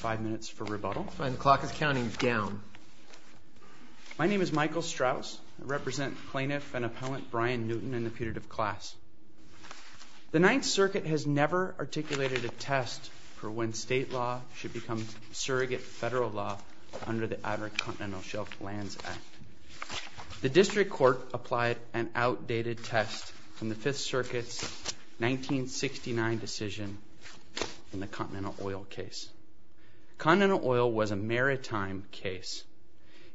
5 Minutes for Rebuttal My name is Michael Strauss. I represent Plaintiff and Appellant Brian Newton in the putative class. The Ninth Circuit has never articulated a test for when state law should become surrogate federal law under the Outer Continental Shelf Lands Act. The District Court applied an outdated test from the Fifth Circuit's 1969 decision in the Continental Oil case. Continental Oil was a maritime case.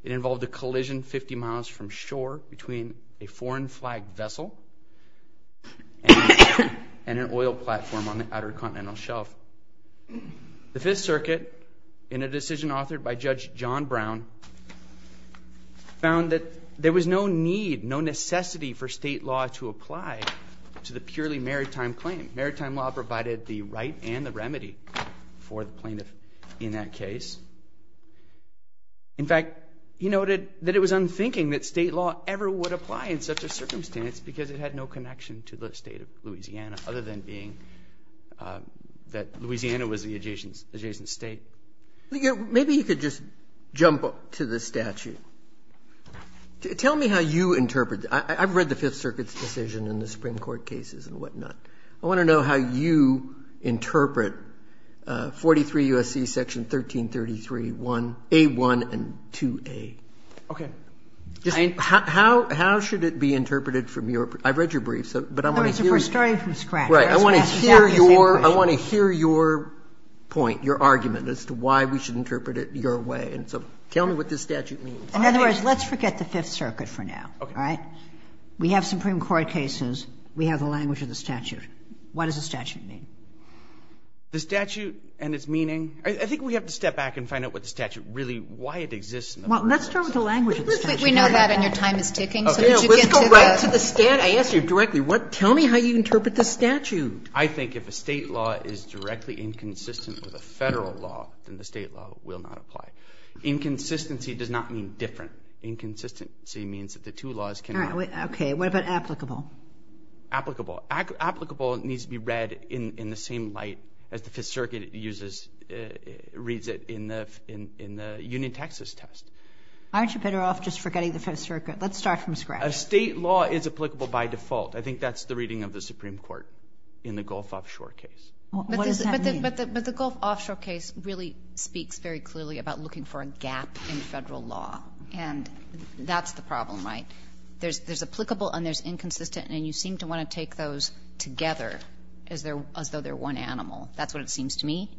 It involved a collision 50 miles from shore between a foreign flag vessel and an oil platform on the Outer Continental found that there was no need, no necessity for state law to apply to the purely maritime claim. Maritime law provided the right and the remedy for the plaintiff in that case. In fact, he noted that it was unthinking that state law ever would apply in such a circumstance because it had no connection to the state of Louisiana other than being that Louisiana was the adjacent state. Maybe you could just jump up to the statute. Tell me how you interpret it. I've read the Fifth Circuit's decision in the Supreme Court cases and whatnot. I want to know how you interpret 43 U.S.C. section 1333 A1 and 2A. How should it be interpreted from your, I mean, your point, your argument as to why we should interpret it your way. And so tell me what this statute means. In other words, let's forget the Fifth Circuit for now. All right? We have Supreme Court cases. We have the language of the statute. What does the statute mean? The statute and its meaning? I think we have to step back and find out what the statute really, why it exists in the first place. Well, let's start with the language of the statute. We know that and your time is ticking. So could you get to the... Okay. Let's go right to the statute. I asked you directly, what, tell me how you interpret the statute. I think if a state law is directly inconsistent with a federal law, then the state law will not apply. Inconsistency does not mean different. Inconsistency means that the two laws cannot... Okay. What about applicable? Applicable. Applicable needs to be read in the same light as the Fifth Circuit uses, reads it in the Union, Texas test. Aren't you better off just forgetting the Fifth Circuit? Let's start from scratch. A state law is applicable by default. I think that's the reading of the Supreme Court in the Gulf Offshore case. What does that mean? But the Gulf Offshore case really speaks very clearly about looking for a gap in federal law. And that's the problem, right? There's applicable and there's inconsistent, and you seem to want to take those together as though they're one animal. That's what it seems to me.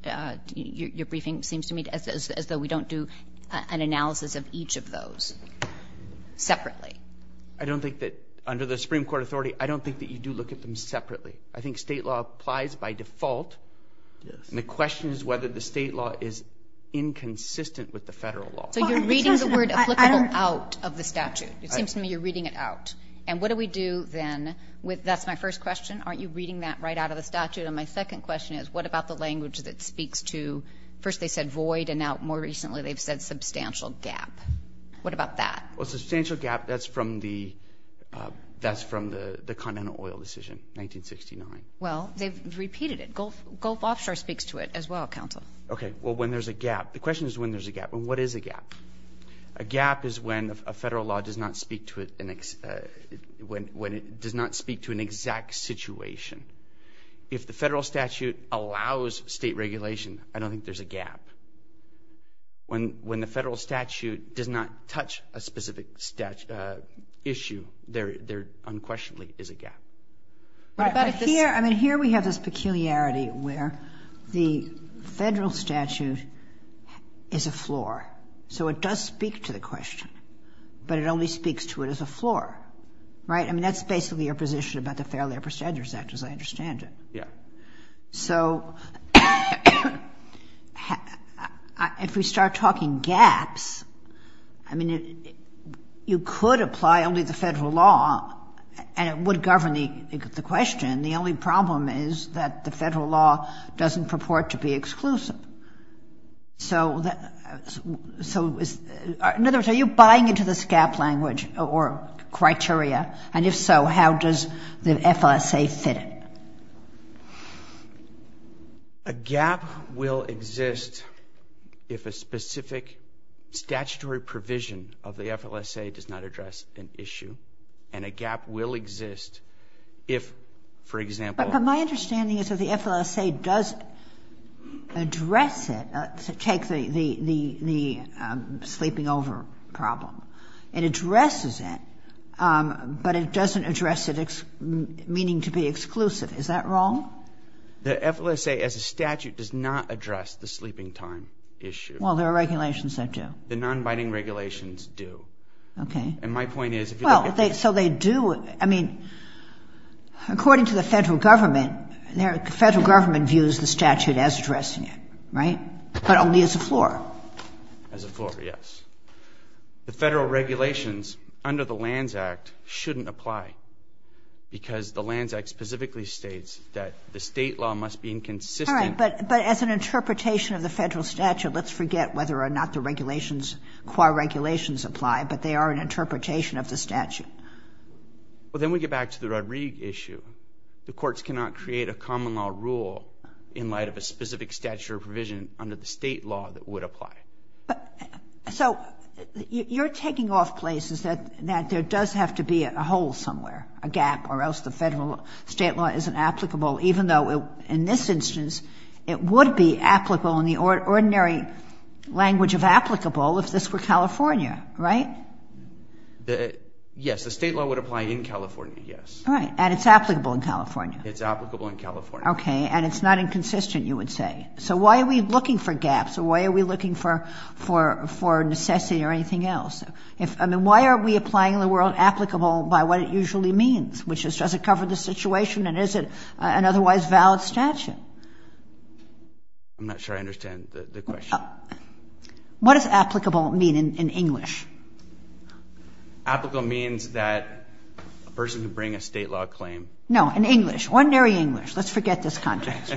Your briefing seems to me as though we don't do an analysis of each of those separately. I don't think that, under the Supreme Court authority, I don't think that you do look at them separately. I think state law applies by default, and the question is whether the state law is inconsistent with the federal law. So you're reading the word applicable out of the statute. It seems to me you're reading it out. And what do we do then with... That's my first question. Aren't you reading that right out of the statute? And my second question is, what about the language that speaks to... First they said void, and now more recently they've said substantial gap. What about that? Well, substantial gap, that's from the... That's from the continental oil decision, 1969. Well, they've repeated it. Gulf Offshore speaks to it as well, counsel. Okay, well when there's a gap... The question is when there's a gap. And what is a gap? A gap is when a federal law does not speak to an exact situation. If the federal statute allows state regulation, I don't think there's a gap. When the federal statute does not touch a specific issue, there unquestionably is a gap. Right, but here we have this peculiarity where the federal statute is a floor. So it does speak to the question, but it only speaks to it as a floor, right? I mean, that's basically your position about the Fair Labor Statutes Act, as I understand it. So, if we start talking gaps, I mean, you could apply only the federal law and it would govern the question. The only problem is that the federal law doesn't purport to be exclusive. So in other words, are you buying into this gap language or criteria? And if so, how does the FLSA fit it? A gap will exist if a specific statutory provision of the FLSA does not address an issue. And a gap will exist if, for example... But my understanding is that the FLSA does address it. Take the sleeping over problem. It addresses it, but it doesn't address it meaning to be exclusive. Is that wrong? The FLSA as a statute does not address the sleeping time issue. Well, there are regulations that do. The non-binding regulations do. Okay. And my point is... Well, so they do, I mean, according to the federal government, the federal government views the statute as addressing it, right? But only as a floor. As a floor, yes. The federal regulations under the Lands Act shouldn't apply because the Lands Act specifically states that the state law must be inconsistent... All right, but as an interpretation of the federal statute, let's forget whether or not the regulations, qua regulations apply, but they are an interpretation of the statute. Well, then we get back to the Rodrigue issue. The courts cannot create a common law rule in light of a specific statute or provision under the state law that would apply. So you're taking off places that there does have to be a hole somewhere, a gap, or else the federal state law isn't applicable, even though in this instance, it would be applicable in the ordinary language of applicable if this were California, right? Yes, the state law would apply in California, yes. All right, and it's applicable in California. It's applicable in California. Okay, and it's not inconsistent, you would say. So why are we looking for gaps? Why are we looking for necessity or anything else? I mean, why are we applying the word applicable by what it usually means, which is, does it cover the situation and is it an otherwise valid statute? I'm not sure I understand the question. What does applicable mean in English? Applicable means that a person who bring a state law claim... No, in English, ordinary English. Let's forget this context.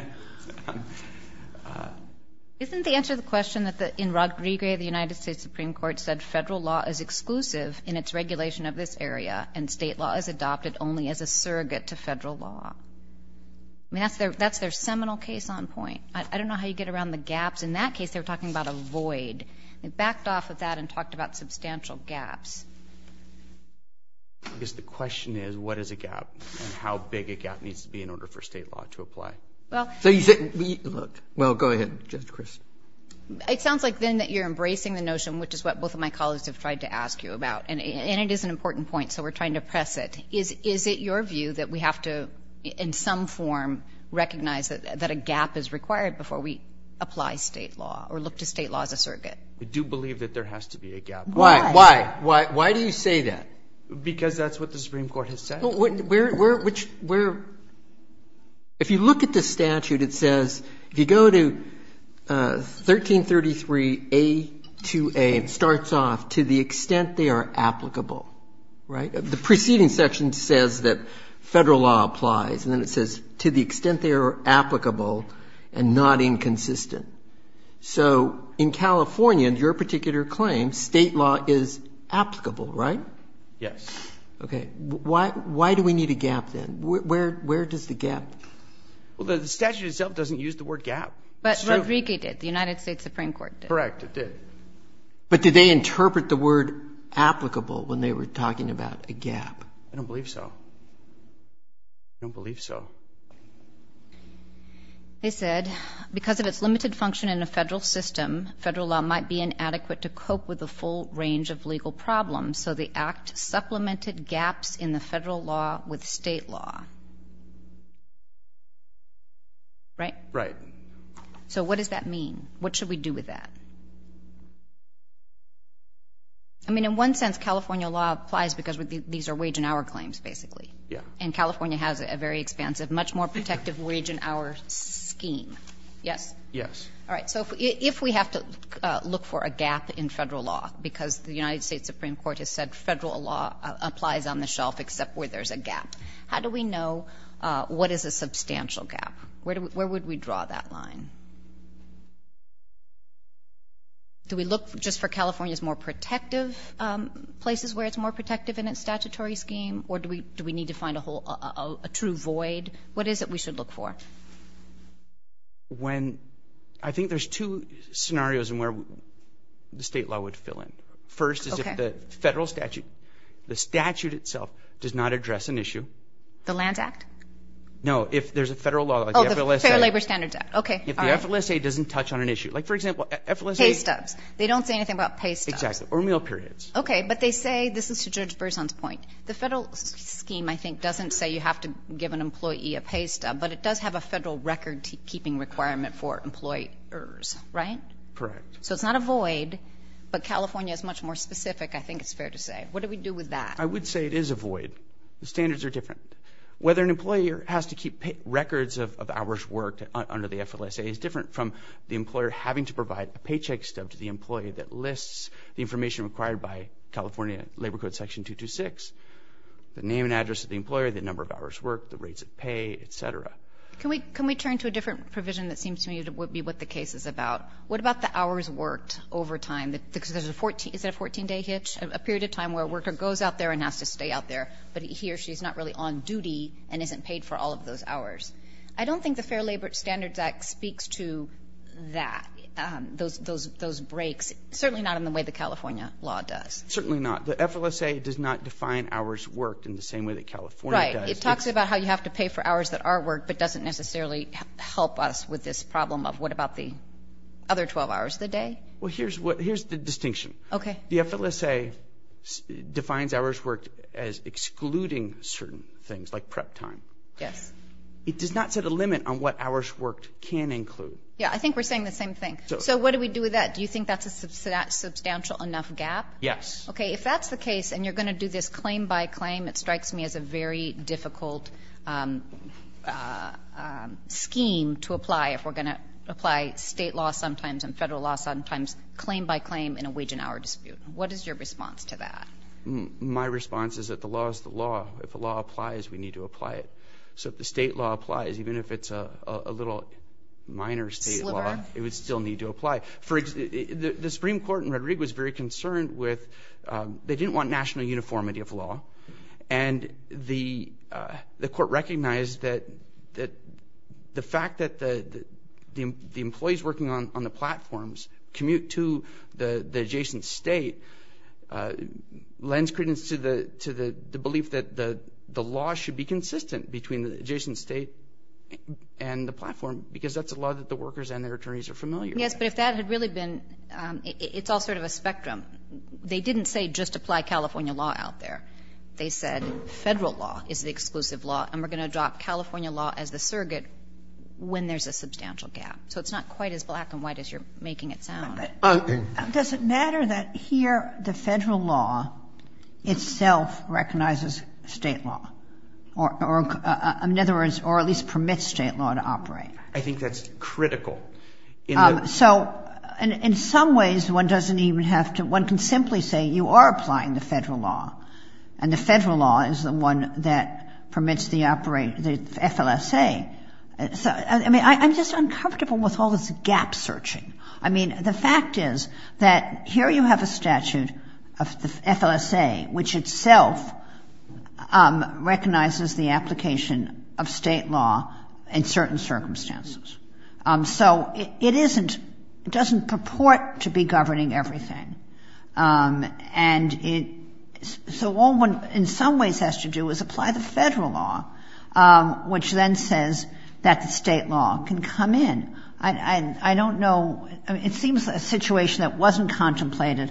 Isn't the answer to the question that in Rodriguez, the United States Supreme Court said federal law is exclusive in its regulation of this area and state law is adopted only as a surrogate to federal law? I mean, that's their seminal case on point. I don't know how you get around the gaps. In that case, they were talking about a void. They backed off of that and talked about substantial gaps. I guess the question is what is a gap and how big a gap needs to be in order for state law to apply. Well... So you say... Well, go ahead, Judge Chris. It sounds like then that you're embracing the notion, which is what both of my colleagues have tried to ask you about, and it is an important point, so we're trying to press it. Is it your view that we have to in some form recognize that a gap is required before we apply state law or look to state law as a surrogate? We do believe that there has to be a gap. Why? Why do you say that? Because that's what the Supreme Court has said. If you look at the statute, it says, if you go to 1333A-2A, it starts off, to the extent they are applicable, right? The preceding section says that federal law applies, and then it says, to the extent they are applicable and not inconsistent. So in California, in your particular claim, state law is applicable, right? Yes. Okay. Why do we need a gap then? Where does the gap... Well, the statute itself doesn't use the word gap. But Rodriguez did. The United States Supreme Court did. Correct, it did. But did they interpret the word applicable when they were talking about a gap? I don't believe so. I don't believe so. They said, because of its limited function in a federal system, federal law might be inadequate to cope with a full range of legal problems, so the Act supplemented gaps in the federal law with state law. Right? Right. So what does that mean? What should we do with that? I mean, in one sense, California law applies because these are wage and hour claims, basically. Yeah. And California has a very expansive, much more protective wage and hour scheme. Yes? Yes. All right. So if we have to look for a gap in federal law, because the United States Supreme Court has said federal law applies on the shelf except where there's a gap, how do we know what is a substantial gap? Where would we draw that line? Do we look just for California's more protective places where it's more a true void? What is it we should look for? I think there's two scenarios in where the state law would fill in. First is if the federal statute, the statute itself, does not address an issue. The Lands Act? If there's a federal law like the FLSA. Oh, the Fair Labor Standards Act. Okay. All right. If the FLSA doesn't touch on an issue. Like, for example, FLSA. Pay stubs. They don't say anything about pay stubs. Exactly. Or meal periods. Okay. But they say, this is to Judge Berzon's point, the federal scheme, I think, doesn't say you have to give an employee a pay stub, but it does have a federal record-keeping requirement for employers. Right? Correct. So it's not a void, but California is much more specific, I think it's fair to say. What do we do with that? I would say it is a void. The standards are different. Whether an employer has to keep records of hours worked under the FLSA is different from the employer having to provide a paycheck stub to the employee that lists the information required by California Labor Code Section 226, the name and address of the employer, the number of hours worked, the rates of pay, et cetera. Can we turn to a different provision that seems to me to be what the case is about? What about the hours worked over time? Because there's a 14-day hitch, a period of time where a worker goes out there and has to stay out there, but he or she is not really on duty and isn't paid for all of those hours. I don't think the Fair Labor Standards Act speaks to that, those breaks, certainly not in the way the California law does. Certainly not. The FLSA does not define hours worked in the same way that California does. Right. It talks about how you have to pay for hours that are worked, but doesn't necessarily help us with this problem of what about the other 12 hours of the day? Well, here's the distinction. Okay. The FLSA defines hours worked as excluding certain things, like prep time. Yes. It does not set a limit on what hours worked can include. Yeah. I think we're saying the same thing. So what do we do with that? Do you think that's a substantial enough gap? Yes. Okay. If that's the case and you're going to do this claim by claim, it strikes me as a very difficult scheme to apply if we're going to apply state law sometimes and federal law sometimes, claim by claim in a wage and hour dispute. What is your response to that? My response is that the law is the law. If the law applies, we need to apply it. So if the state law applies, even if it's a little minor state law, it would still need to apply. The Supreme Court in Red Rig was very concerned with they didn't want national uniformity of law, and the court recognized that the fact that the employees working on the platforms commute to the adjacent state lends credence to the belief that the law should be consistent between the adjacent state and the platform, because that's a law that the workers and their attorneys are familiar with. Yes, but if that had really been – it's all sort of a spectrum. They didn't say just apply California law out there. They said federal law is the exclusive law, and we're going to adopt California law as the surrogate when there's a substantial gap. So it's not quite as black and white as you're making it sound. Does it matter that here the federal law itself recognizes state law, or in other words, or at least permits state law to operate? I think that's critical. So in some ways, one doesn't even have to – one can simply say you are applying the federal law, and the federal law is the one that permits the FLSA. I mean, I'm just uncomfortable with all this gap searching. I mean, the fact is that here you have a statute of the FLSA, which itself recognizes the application of state law in certain circumstances. So it isn't – it doesn't purport to be governing everything. And so all one in some ways has to do is apply the federal law, which then says that the state law can come in. And I don't know – I mean, it seems a situation that wasn't contemplated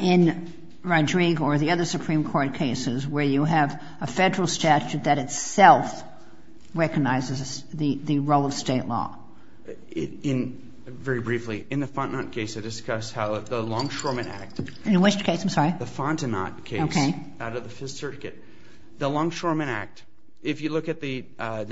in Rodrigue or the other Supreme Court cases, where you have a federal statute that itself recognizes the role of state law. In – very briefly, in the Fontenot case, I discussed how the Longshoremen Act. In which case? I'm sorry. The Fontenot case. Okay. Out of the Fifth Circuit. The Longshoremen Act. If you look at the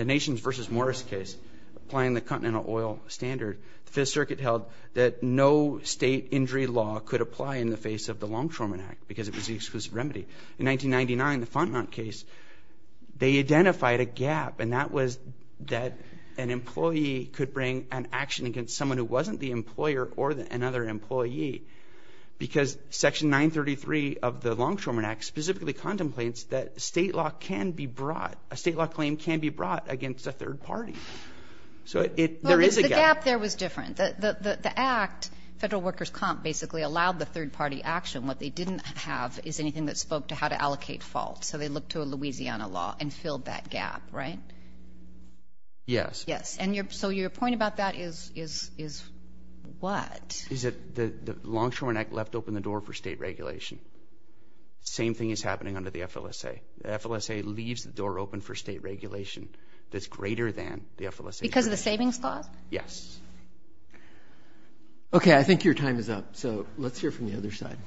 Nations v. Morris case, applying the continental oil standard, the Fifth Circuit held that no state injury law could apply in the face of the Longshoremen Act because it was the exclusive remedy. In 1999, the Fontenot case, they identified a gap, and that was that an employee could bring an action against someone who wasn't the employer or another employee. Because Section 933 of the Longshoremen Act specifically contemplates that state law can be brought – a state law claim can be brought against a third party. So there is a gap. Well, the gap there was different. The act, Federal Workers' Comp, basically allowed the third-party action. What they didn't have is anything that spoke to how to allocate faults. So they looked to a Louisiana law and filled that gap, right? Yes. Yes. And so your point about that is what? Is that the Longshoremen Act left open the door for state regulation. Same thing is happening under the FLSA. The FLSA leaves the door open for state regulation that's greater than the FLSA. Because of the savings clause? Yes. Okay. I think your time is up, so let's hear from the other side.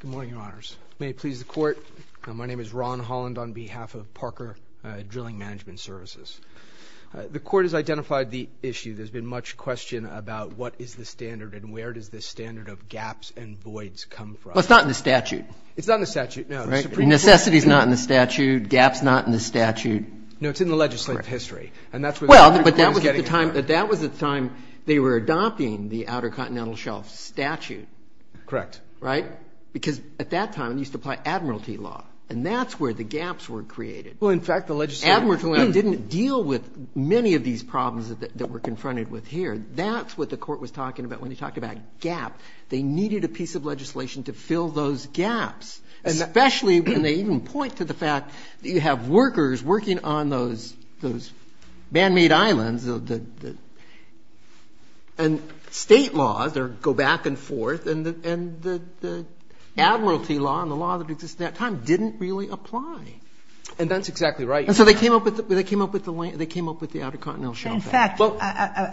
Good morning, Your Honors. May it please the Court. My name is Ron Holland on behalf of Parker Drilling Management Services. The Court has identified the issue. There's been much question about what is the standard and where does the standard of gaps and voids come from. Well, it's not in the statute. It's not in the statute, no. Necessity is not in the statute. Gap's not in the statute. No, it's in the legislative history. And that's where the Court is getting at. Well, but that was at the time they were adopting the Outer Continental Shelf statute. Correct. Right? Because at that time it used to apply admiralty law, and that's where the gaps were created. Well, in fact, the legislative law didn't deal with many of these problems that we're confronted with here. That's what the Court was talking about when they talked about gap. They needed a piece of legislation to fill those gaps, especially when they even point to the fact that you have workers working on those man-made islands. And State laws go back and forth. And the admiralty law and the law that existed at that time didn't really apply. And that's exactly right. And so they came up with the Outer Continental Shelf Act. In fact,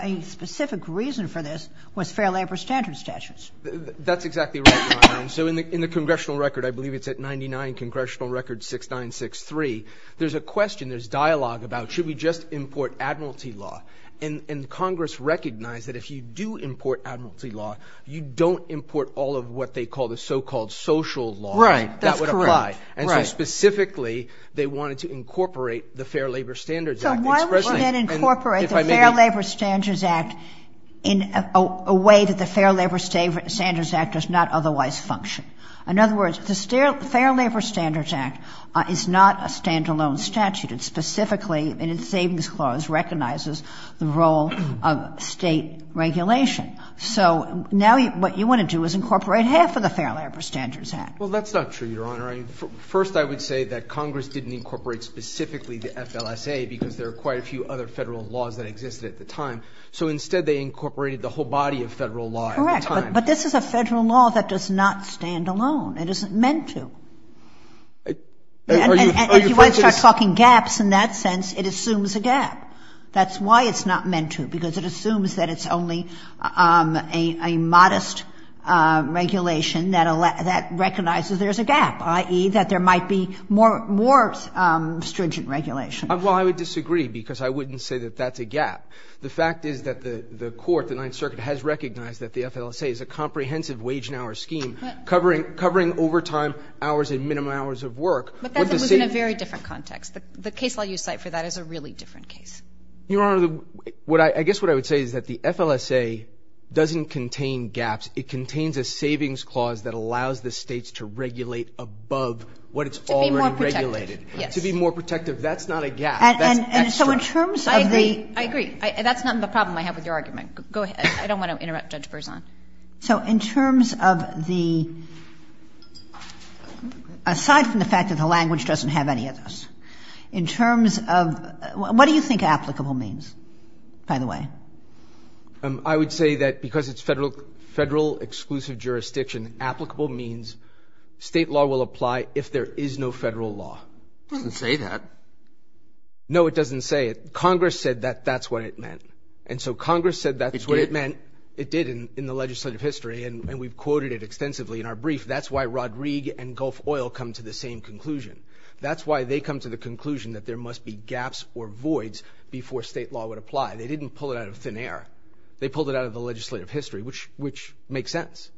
a specific reason for this was fair labor standards statutes. That's exactly right, Your Honor. So in the congressional record, I believe it's at 99, Congressional Record 6963, there's a question, there's dialogue about should we just import admiralty law. And Congress recognized that if you do import admiralty law, you don't import all of what they call the so-called social law. Right, that's correct. And so specifically they wanted to incorporate the Fair Labor Standards Act. So why would you then incorporate the Fair Labor Standards Act in a way that the Fair Labor Standards Act does not otherwise function? In other words, the Fair Labor Standards Act is not a stand-alone statute. It specifically, in its savings clause, recognizes the role of State regulation. So now what you want to do is incorporate half of the Fair Labor Standards Act. Well, that's not true, Your Honor. First I would say that Congress didn't incorporate specifically the FLSA, because there are quite a few other Federal laws that existed at the time. So instead they incorporated the whole body of Federal law at the time. But this is a Federal law that does not stand alone. It isn't meant to. And if you want to start talking gaps in that sense, it assumes a gap. That's why it's not meant to, because it assumes that it's only a modest regulation that recognizes there's a gap, i.e., that there might be more stringent regulation. Well, I would disagree, because I wouldn't say that that's a gap. The fact is that the Court, the Ninth Circuit, has recognized that the FLSA is a comprehensive wage and hour scheme covering overtime hours and minimum hours of work. But that's in a very different context. The case law you cite for that is a really different case. Your Honor, I guess what I would say is that the FLSA doesn't contain gaps. It contains a savings clause that allows the States to regulate above what it's already regulated. To be more protective, yes. To be more protective. That's not a gap. That's extra. I agree. I agree. That's not the problem I have with your argument. Go ahead. I don't want to interrupt Judge Berzon. So in terms of the, aside from the fact that the language doesn't have any of this, in terms of what do you think applicable means, by the way? I would say that because it's Federal-exclusive jurisdiction, applicable means State law will apply if there is no Federal law. It doesn't say that. No, it doesn't say it. Congress said that that's what it meant. And so Congress said that's what it meant. It did. It did in the legislative history, and we've quoted it extensively in our brief. That's why Rodrigue and Gulf Oil come to the same conclusion. That's why they come to the conclusion that there must be gaps or voids before State law would apply. They didn't pull it out of thin air. They pulled it out of the legislative history, which makes sense.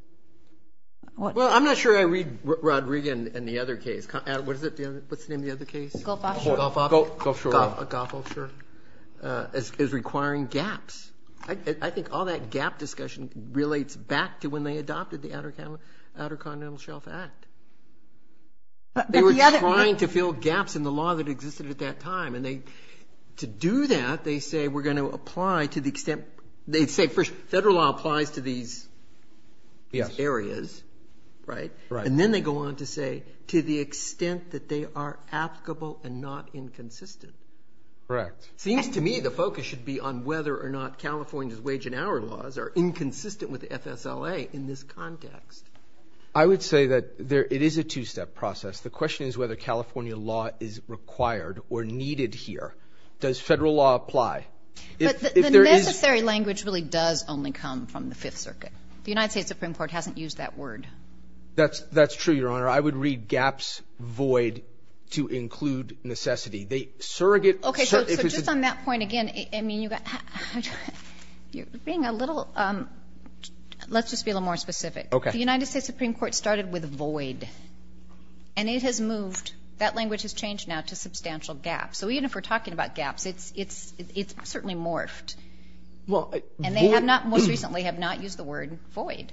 Well, I'm not sure I read Rodrigue in the other case. What's the name of the other case? Gulf Offshore. Gulf Offshore. Gulf Offshore is requiring gaps. I think all that gap discussion relates back to when they adopted the Outer Continental Shelf Act. They were trying to fill gaps in the law that existed at that time, and to do that, they say we're going to apply to the extent they say Federal law applies to these areas, right? Right. And then they go on to say to the extent that they are applicable and not inconsistent. Correct. It seems to me the focus should be on whether or not California's wage and hour laws are inconsistent with FSLA in this context. I would say that it is a two-step process. The question is whether California law is required or needed here. Does Federal law apply? The necessary language really does only come from the Fifth Circuit. The United States Supreme Court hasn't used that word. That's true, Your Honor. I would read gaps void to include necessity. They surrogate. Okay. So just on that point again, I mean, you're being a little ‑‑ let's just be a little more specific. Okay. The United States Supreme Court started with void, and it has moved. That language has changed now to substantial gaps. So even if we're talking about gaps, it's certainly morphed. And they have not most recently have not used the word void.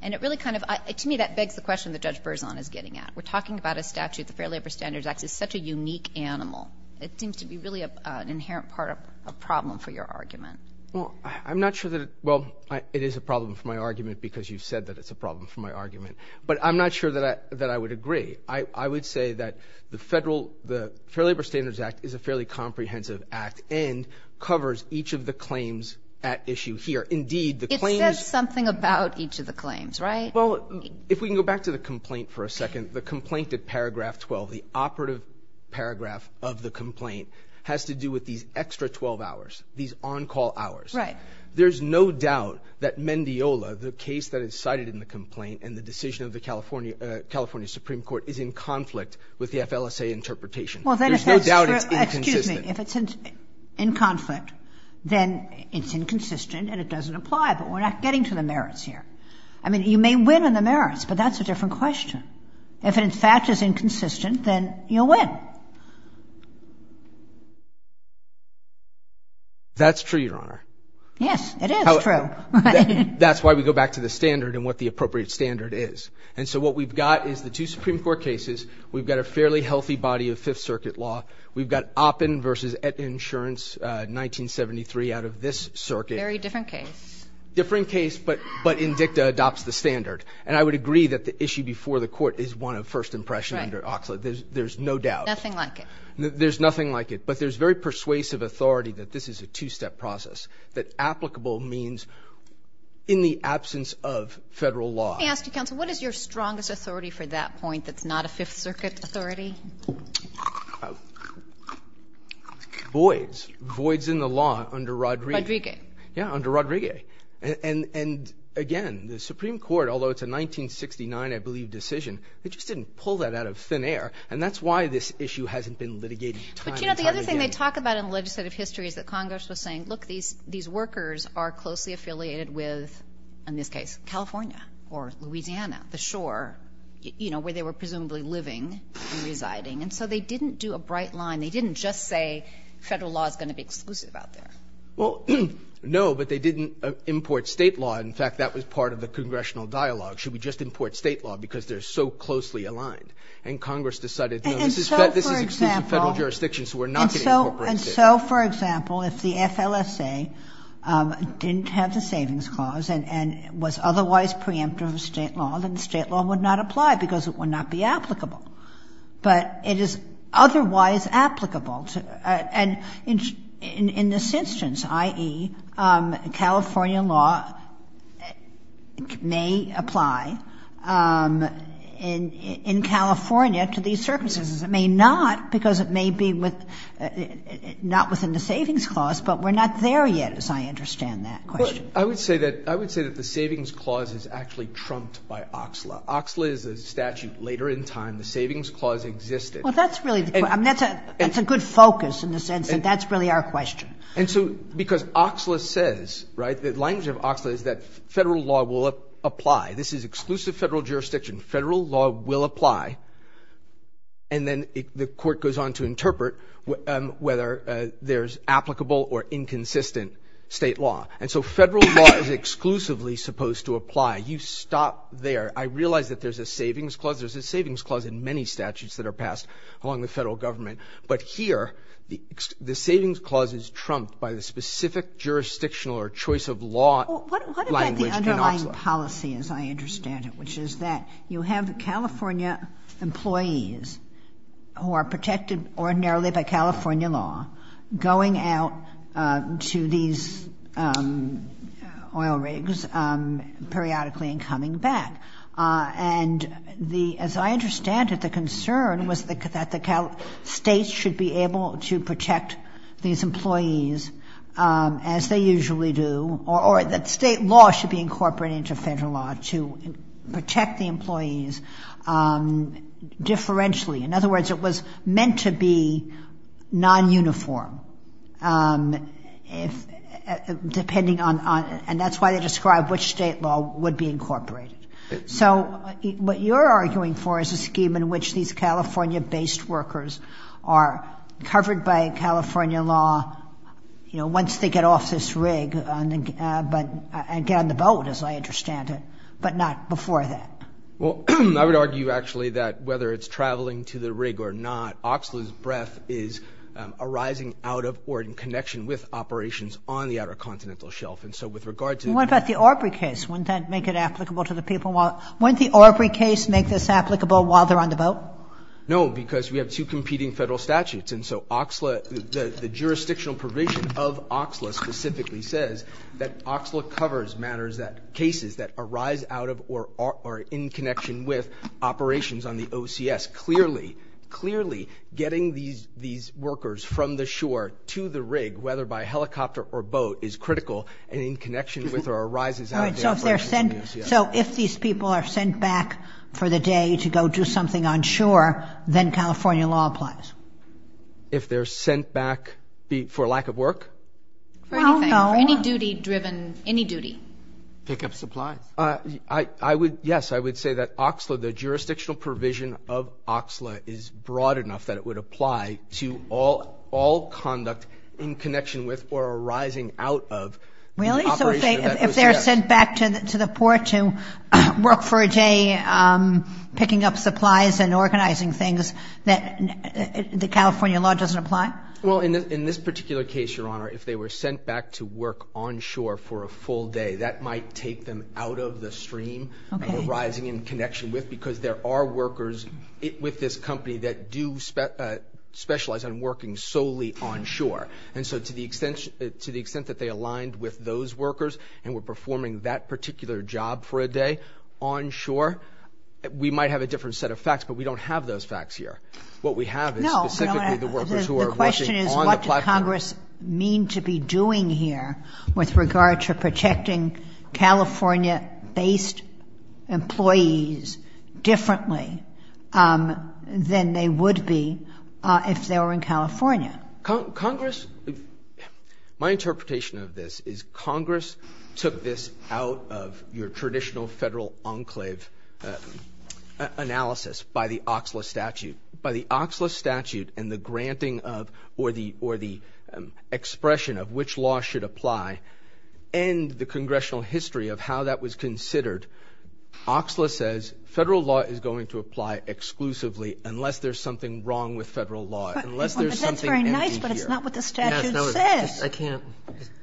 And it really kind of ‑‑ to me, that begs the question that Judge Berzon is getting at. We're talking about a statute. The Fair Labor Standards Act is such a unique animal. It seems to be really an inherent part of a problem for your argument. Well, I'm not sure that it ‑‑ well, it is a problem for my argument because you've said that it's a problem for my argument. But I'm not sure that I would agree. I would say that the Federal ‑‑ the Fair Labor Standards Act is a fairly comprehensive act and covers each of the claims at issue here. Indeed, the claims ‑‑ It says something about each of the claims, right? Well, if we can go back to the complaint for a second, the complaint at paragraph 12, the operative paragraph of the complaint, has to do with these extra 12 hours, these on‑call hours. Right. There's no doubt that Mendiola, the case that is cited in the complaint and the decision of the California Supreme Court, is in conflict with the FLSA interpretation. There's no doubt it's inconsistent. If it's in conflict, then it's inconsistent and it doesn't apply, but we're not getting to the merits here. I mean, you may win on the merits, but that's a different question. If it, in fact, is inconsistent, then you'll win. That's true, Your Honor. Yes, it is true. That's why we go back to the standard and what the appropriate standard is. And so what we've got is the two Supreme Court cases. We've got a fairly healthy body of Fifth Circuit law. We've got Oppen v. Etta Insurance, 1973, out of this circuit. Very different case. Different case, but Indicta adopts the standard. And I would agree that the issue before the court is one of first impression under Oxley. There's no doubt. Nothing like it. There's nothing like it. But there's very persuasive authority that this is a two‑step process, that applicable means in the absence of federal law. Let me ask you, counsel, what is your strongest authority for that point that's not a Fifth Circuit authority? Voids. Voids in the law under Rodriguez. Yeah, under Rodriguez. And, again, the Supreme Court, although it's a 1969, I believe, decision, they just didn't pull that out of thin air. And that's why this issue hasn't been litigated time and time again. But, you know, the other thing they talk about in legislative history is that Congress was saying, look, these workers are closely affiliated with, in this case, California or Louisiana, the shore, you know, where they were presumably living and residing. And so they didn't do a bright line. They didn't just say federal law is going to be exclusive out there. Well, no, but they didn't import State law. In fact, that was part of the congressional dialogue. Should we just import State law because they're so closely aligned? And Congress decided, no, this is exclusive federal jurisdiction, so we're not going to incorporate State law. And so, for example, if the FLSA didn't have the Savings Clause and was otherwise preemptive of State law, then State law would not apply because it would not be applicable. But it is otherwise applicable. And in this instance, i.e., California law may apply in California to these circumstances. It may not because it may be with not within the Savings Clause, but we're not there yet, as I understand that question. I would say that the Savings Clause is actually trumped by OXLA. OXLA is a statute later in time. The Savings Clause existed. Well, that's really the point. I mean, that's a good focus in the sense that that's really our question. And so because OXLA says, right, the language of OXLA is that federal law will apply. This is exclusive federal jurisdiction. Federal law will apply. And then the Court goes on to interpret whether there's applicable or inconsistent State law. And so federal law is exclusively supposed to apply. You stop there. I realize that there's a Savings Clause. There's a Savings Clause in many statutes that are passed along the Federal Government. But here, the Savings Clause is trumped by the specific jurisdictional or choice of law language in OXLA. What about the underlying policy, as I understand it, which is that you have California employees who are protected ordinarily by California law going out to these oil rigs periodically and coming back. And as I understand it, the concern was that the states should be able to protect these employees, as they usually do, or that State law should be incorporated into federal law to protect the employees differentially. In other words, it was meant to be nonuniform, depending on, and that's why they describe which State law would be incorporated. So what you're arguing for is a scheme in which these California-based workers are covered by California law, you know, once they get off this rig and get on the boat, as I understand it, but not before that. Well, I would argue, actually, that whether it's traveling to the rig or not, OXLA's breath is arising out of or in connection with operations on the Outer Continental Shelf. And so with regard to the... What about the Aubrey case? Wouldn't that make it applicable to the people while, wouldn't the Aubrey case make this out of or in connection with operations on the OCS? Clearly, getting these workers from the shore to the rig, whether by helicopter or boat, is critical and in connection with or arises out of the operations on the OCS. So if these people are sent back for the day to go do something on shore, then California law applies? If they're sent back for lack of work? For anything. For any duty driven, any duty. Pick up supplies. I would, yes, I would say that OXLA, the jurisdictional provision of OXLA is broad enough that it would apply to all conduct in connection with or arising out of the operation of that OCS. Really? So if they're sent back to the port to work for a day picking up supplies and organizing things, the California law doesn't apply? Well, in this particular case, Your Honor, if they were sent back to work on shore for a full day, that might take them out of the stream of arising in connection with because there are workers with this company that do specialize in working solely on shore. And so to the extent that they aligned with those workers and were performing that particular job for a day on shore, we might have a different set of facts, but we don't have those facts here. What we have is specifically the workers who are working on the platform. The question is what does Congress mean to be doing here with regard to protecting California based employees differently than they would be if they were in California? Congress, my interpretation of this is Congress took this out of your traditional federal enclave analysis by the OCSLA statute. By the OCSLA statute and the granting of or the expression of which law should apply and the congressional history of how that was considered, OCSLA says federal law is going to apply exclusively unless there's something wrong with federal law. But that's very nice, but it's not what the statute says.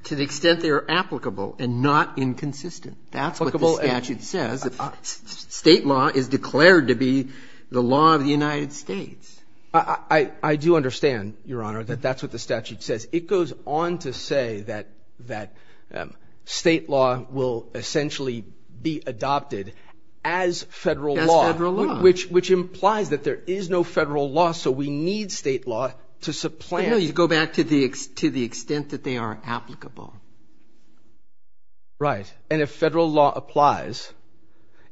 To the extent they are applicable and not inconsistent, that's what the statute says. State law is declared to be the law of the United States. I do understand, Your Honor, that that's what the statute says. It goes on to say that state law will essentially be adopted as federal law, which implies that there is no federal law, so we need state law to supplant. No, you go back to the extent that they are applicable. Right. And if federal law applies,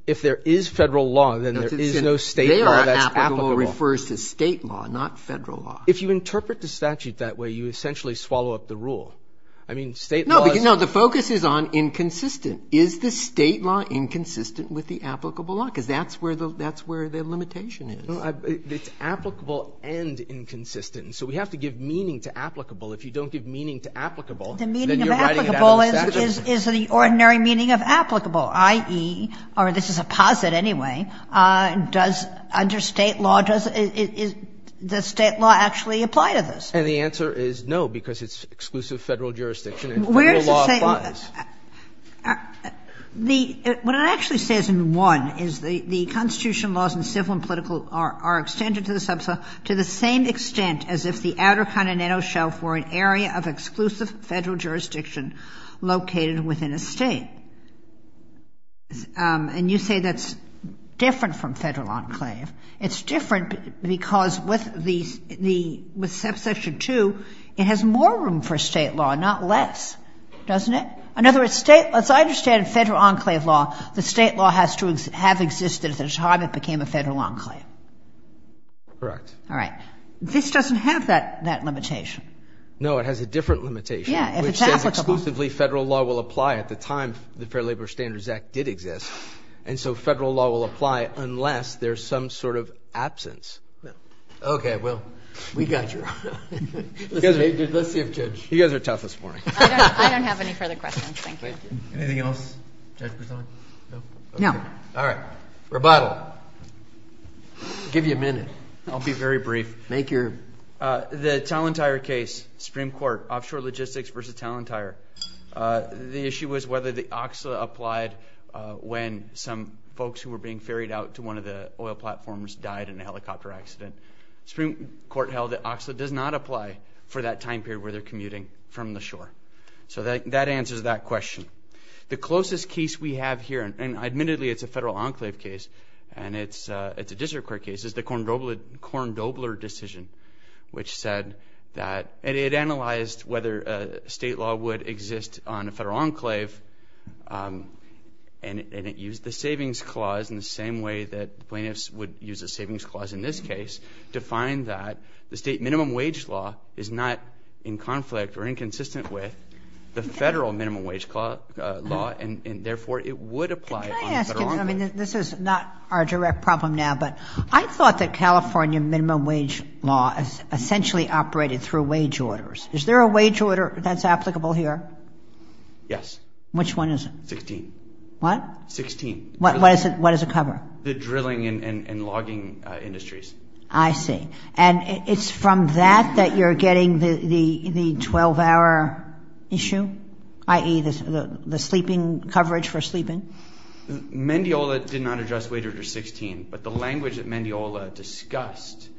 if there is federal law, then there is no state law that's applicable. They are applicable refers to state law, not federal law. If you interpret the statute that way, you essentially swallow up the rule. I mean, state law is... No, because the focus is on inconsistent. Is the state law inconsistent with the applicable law? Because that's where the limitation is. It's applicable and inconsistent, so we have to give meaning to applicable. If you don't give meaning to applicable, then you're writing it out of the statute. The meaning of applicable is the ordinary meaning of applicable, i.e., or this is a posit anyway, does under state law, does the state law actually apply to this? And the answer is no, because it's exclusive federal jurisdiction and federal law applies. Where does it say? What it actually says in one is the Constitution laws in civil and political are extended to the same extent as if the outer continental shelf were an area of exclusive federal jurisdiction located within a state. And you say that's different from federal enclave. It's different because with subsection 2, it has more room for state law, not less, doesn't it? In other words, as I understand federal enclave law, the state law has to have existed at the time it became a federal enclave. Correct. This doesn't have that limitation. No, it has a different limitation, which says exclusively federal law will apply at the time the Fair Labor Standards Act did exist. And so federal law will apply unless there's some sort of absence. Okay, well, we got you. Let's see if Judge... You guys are tough this morning. I don't have any further questions. Anything else? No. All right, rebuttal. I'll give you a minute. I'll be very brief. The Tallentire case, Supreme Court, offshore logistics versus Tallentire. The issue was whether the OXLA applied when some folks who were being ferried out to one of the oil platforms died in a helicopter accident. Supreme Court held that OXLA does not apply for that time period where they're commuting from the shore. So that answers that question. The closest case we have here, and admittedly it's a federal enclave case and it's a district court case, is the Korndobler decision, which said that... And it analyzed whether state law would exist on a federal enclave, and it used the savings clause in the same way that plaintiffs would use a savings clause in this case to find that the state minimum wage law is not in conflict or inconsistent with the federal minimum wage law, and therefore it would apply on a federal enclave. Could I ask you something? This is not our direct problem now, but I thought that California minimum wage law essentially operated through wage orders. Is there a wage order that's applicable here? Yes. Which one is it? 16. What? 16. What does it cover? The drilling and logging industries. I see. And it's from that that you're getting the 12-hour issue, i.e. the sleeping coverage for sleeping? Mendiola did not address wage order 16, but the language that Mendiola discussed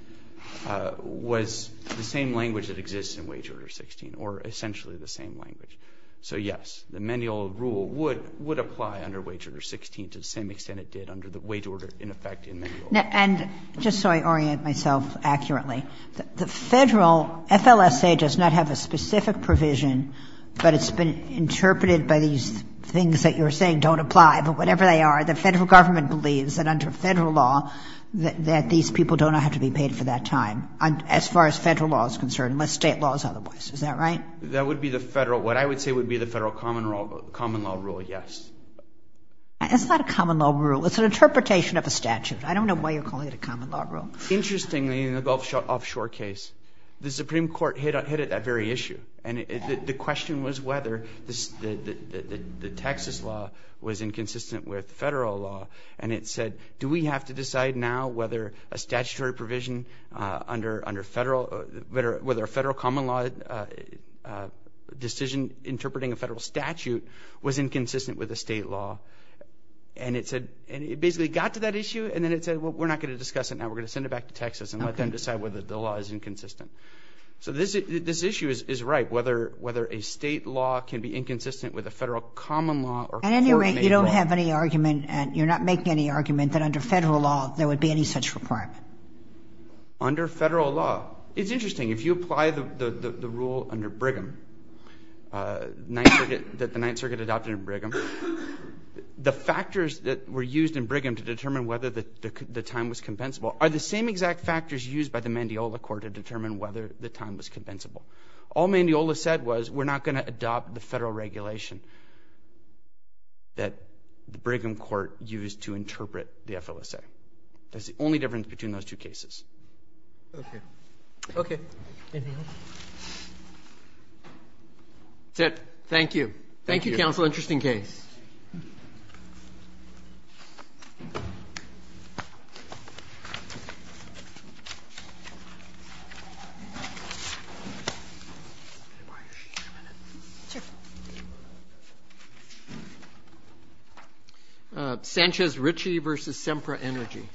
was the same language that exists in wage order 16, or essentially the same language. So, yes, the Mendiola rule would apply under wage order 16 to the same extent it did under the wage order, in effect, in Mendiola. And just so I orient myself accurately, the Federal FLSA does not have a specific provision, but it's been interpreted by these things that you're saying don't apply, but whatever they are, the Federal Government believes that under Federal law that these people do not have to be paid for that time, as far as Federal law is concerned, unless State law is otherwise. Is that right? That would be the Federal, what I would say would be the Federal common law rule, yes. It's not a common law rule. It's an interpretation of a statute. I don't know why you're calling it a common law rule. Interestingly, in the Gulf Shore case, the Supreme Court hit it at that very issue. And the question was whether the Texas law was inconsistent with Federal law. And it said, do we have to decide now whether a statutory provision under Federal, whether a Federal common law decision interpreting a Federal statute was inconsistent with the State law. And it said, and it basically got to that issue, and then it said, well, we're not going to discuss it now. We're going to send it back to Texas and let them decide whether the law is inconsistent. So this issue is right, whether a State law can be inconsistent with a Federal common law. At any rate, you don't have any argument, and you're not making any argument, that under Federal law there would be any such requirement. Under Federal law, it's interesting. If you apply the rule under Brigham that the Ninth Circuit adopted in Brigham, the factors that were used in Brigham to determine whether the time was compensable are the same exact factors used by the Mandiola court to determine whether the time was compensable. All Mandiola said was, we're not going to adopt the Federal regulation that the Brigham court used to interpret the FLSA. That's the only difference between those two cases. Okay. Okay. Anything else? That's it. Thank you. Thank you, counsel. Interesting case. Sanchez-Ritchie v. Sempra Energy.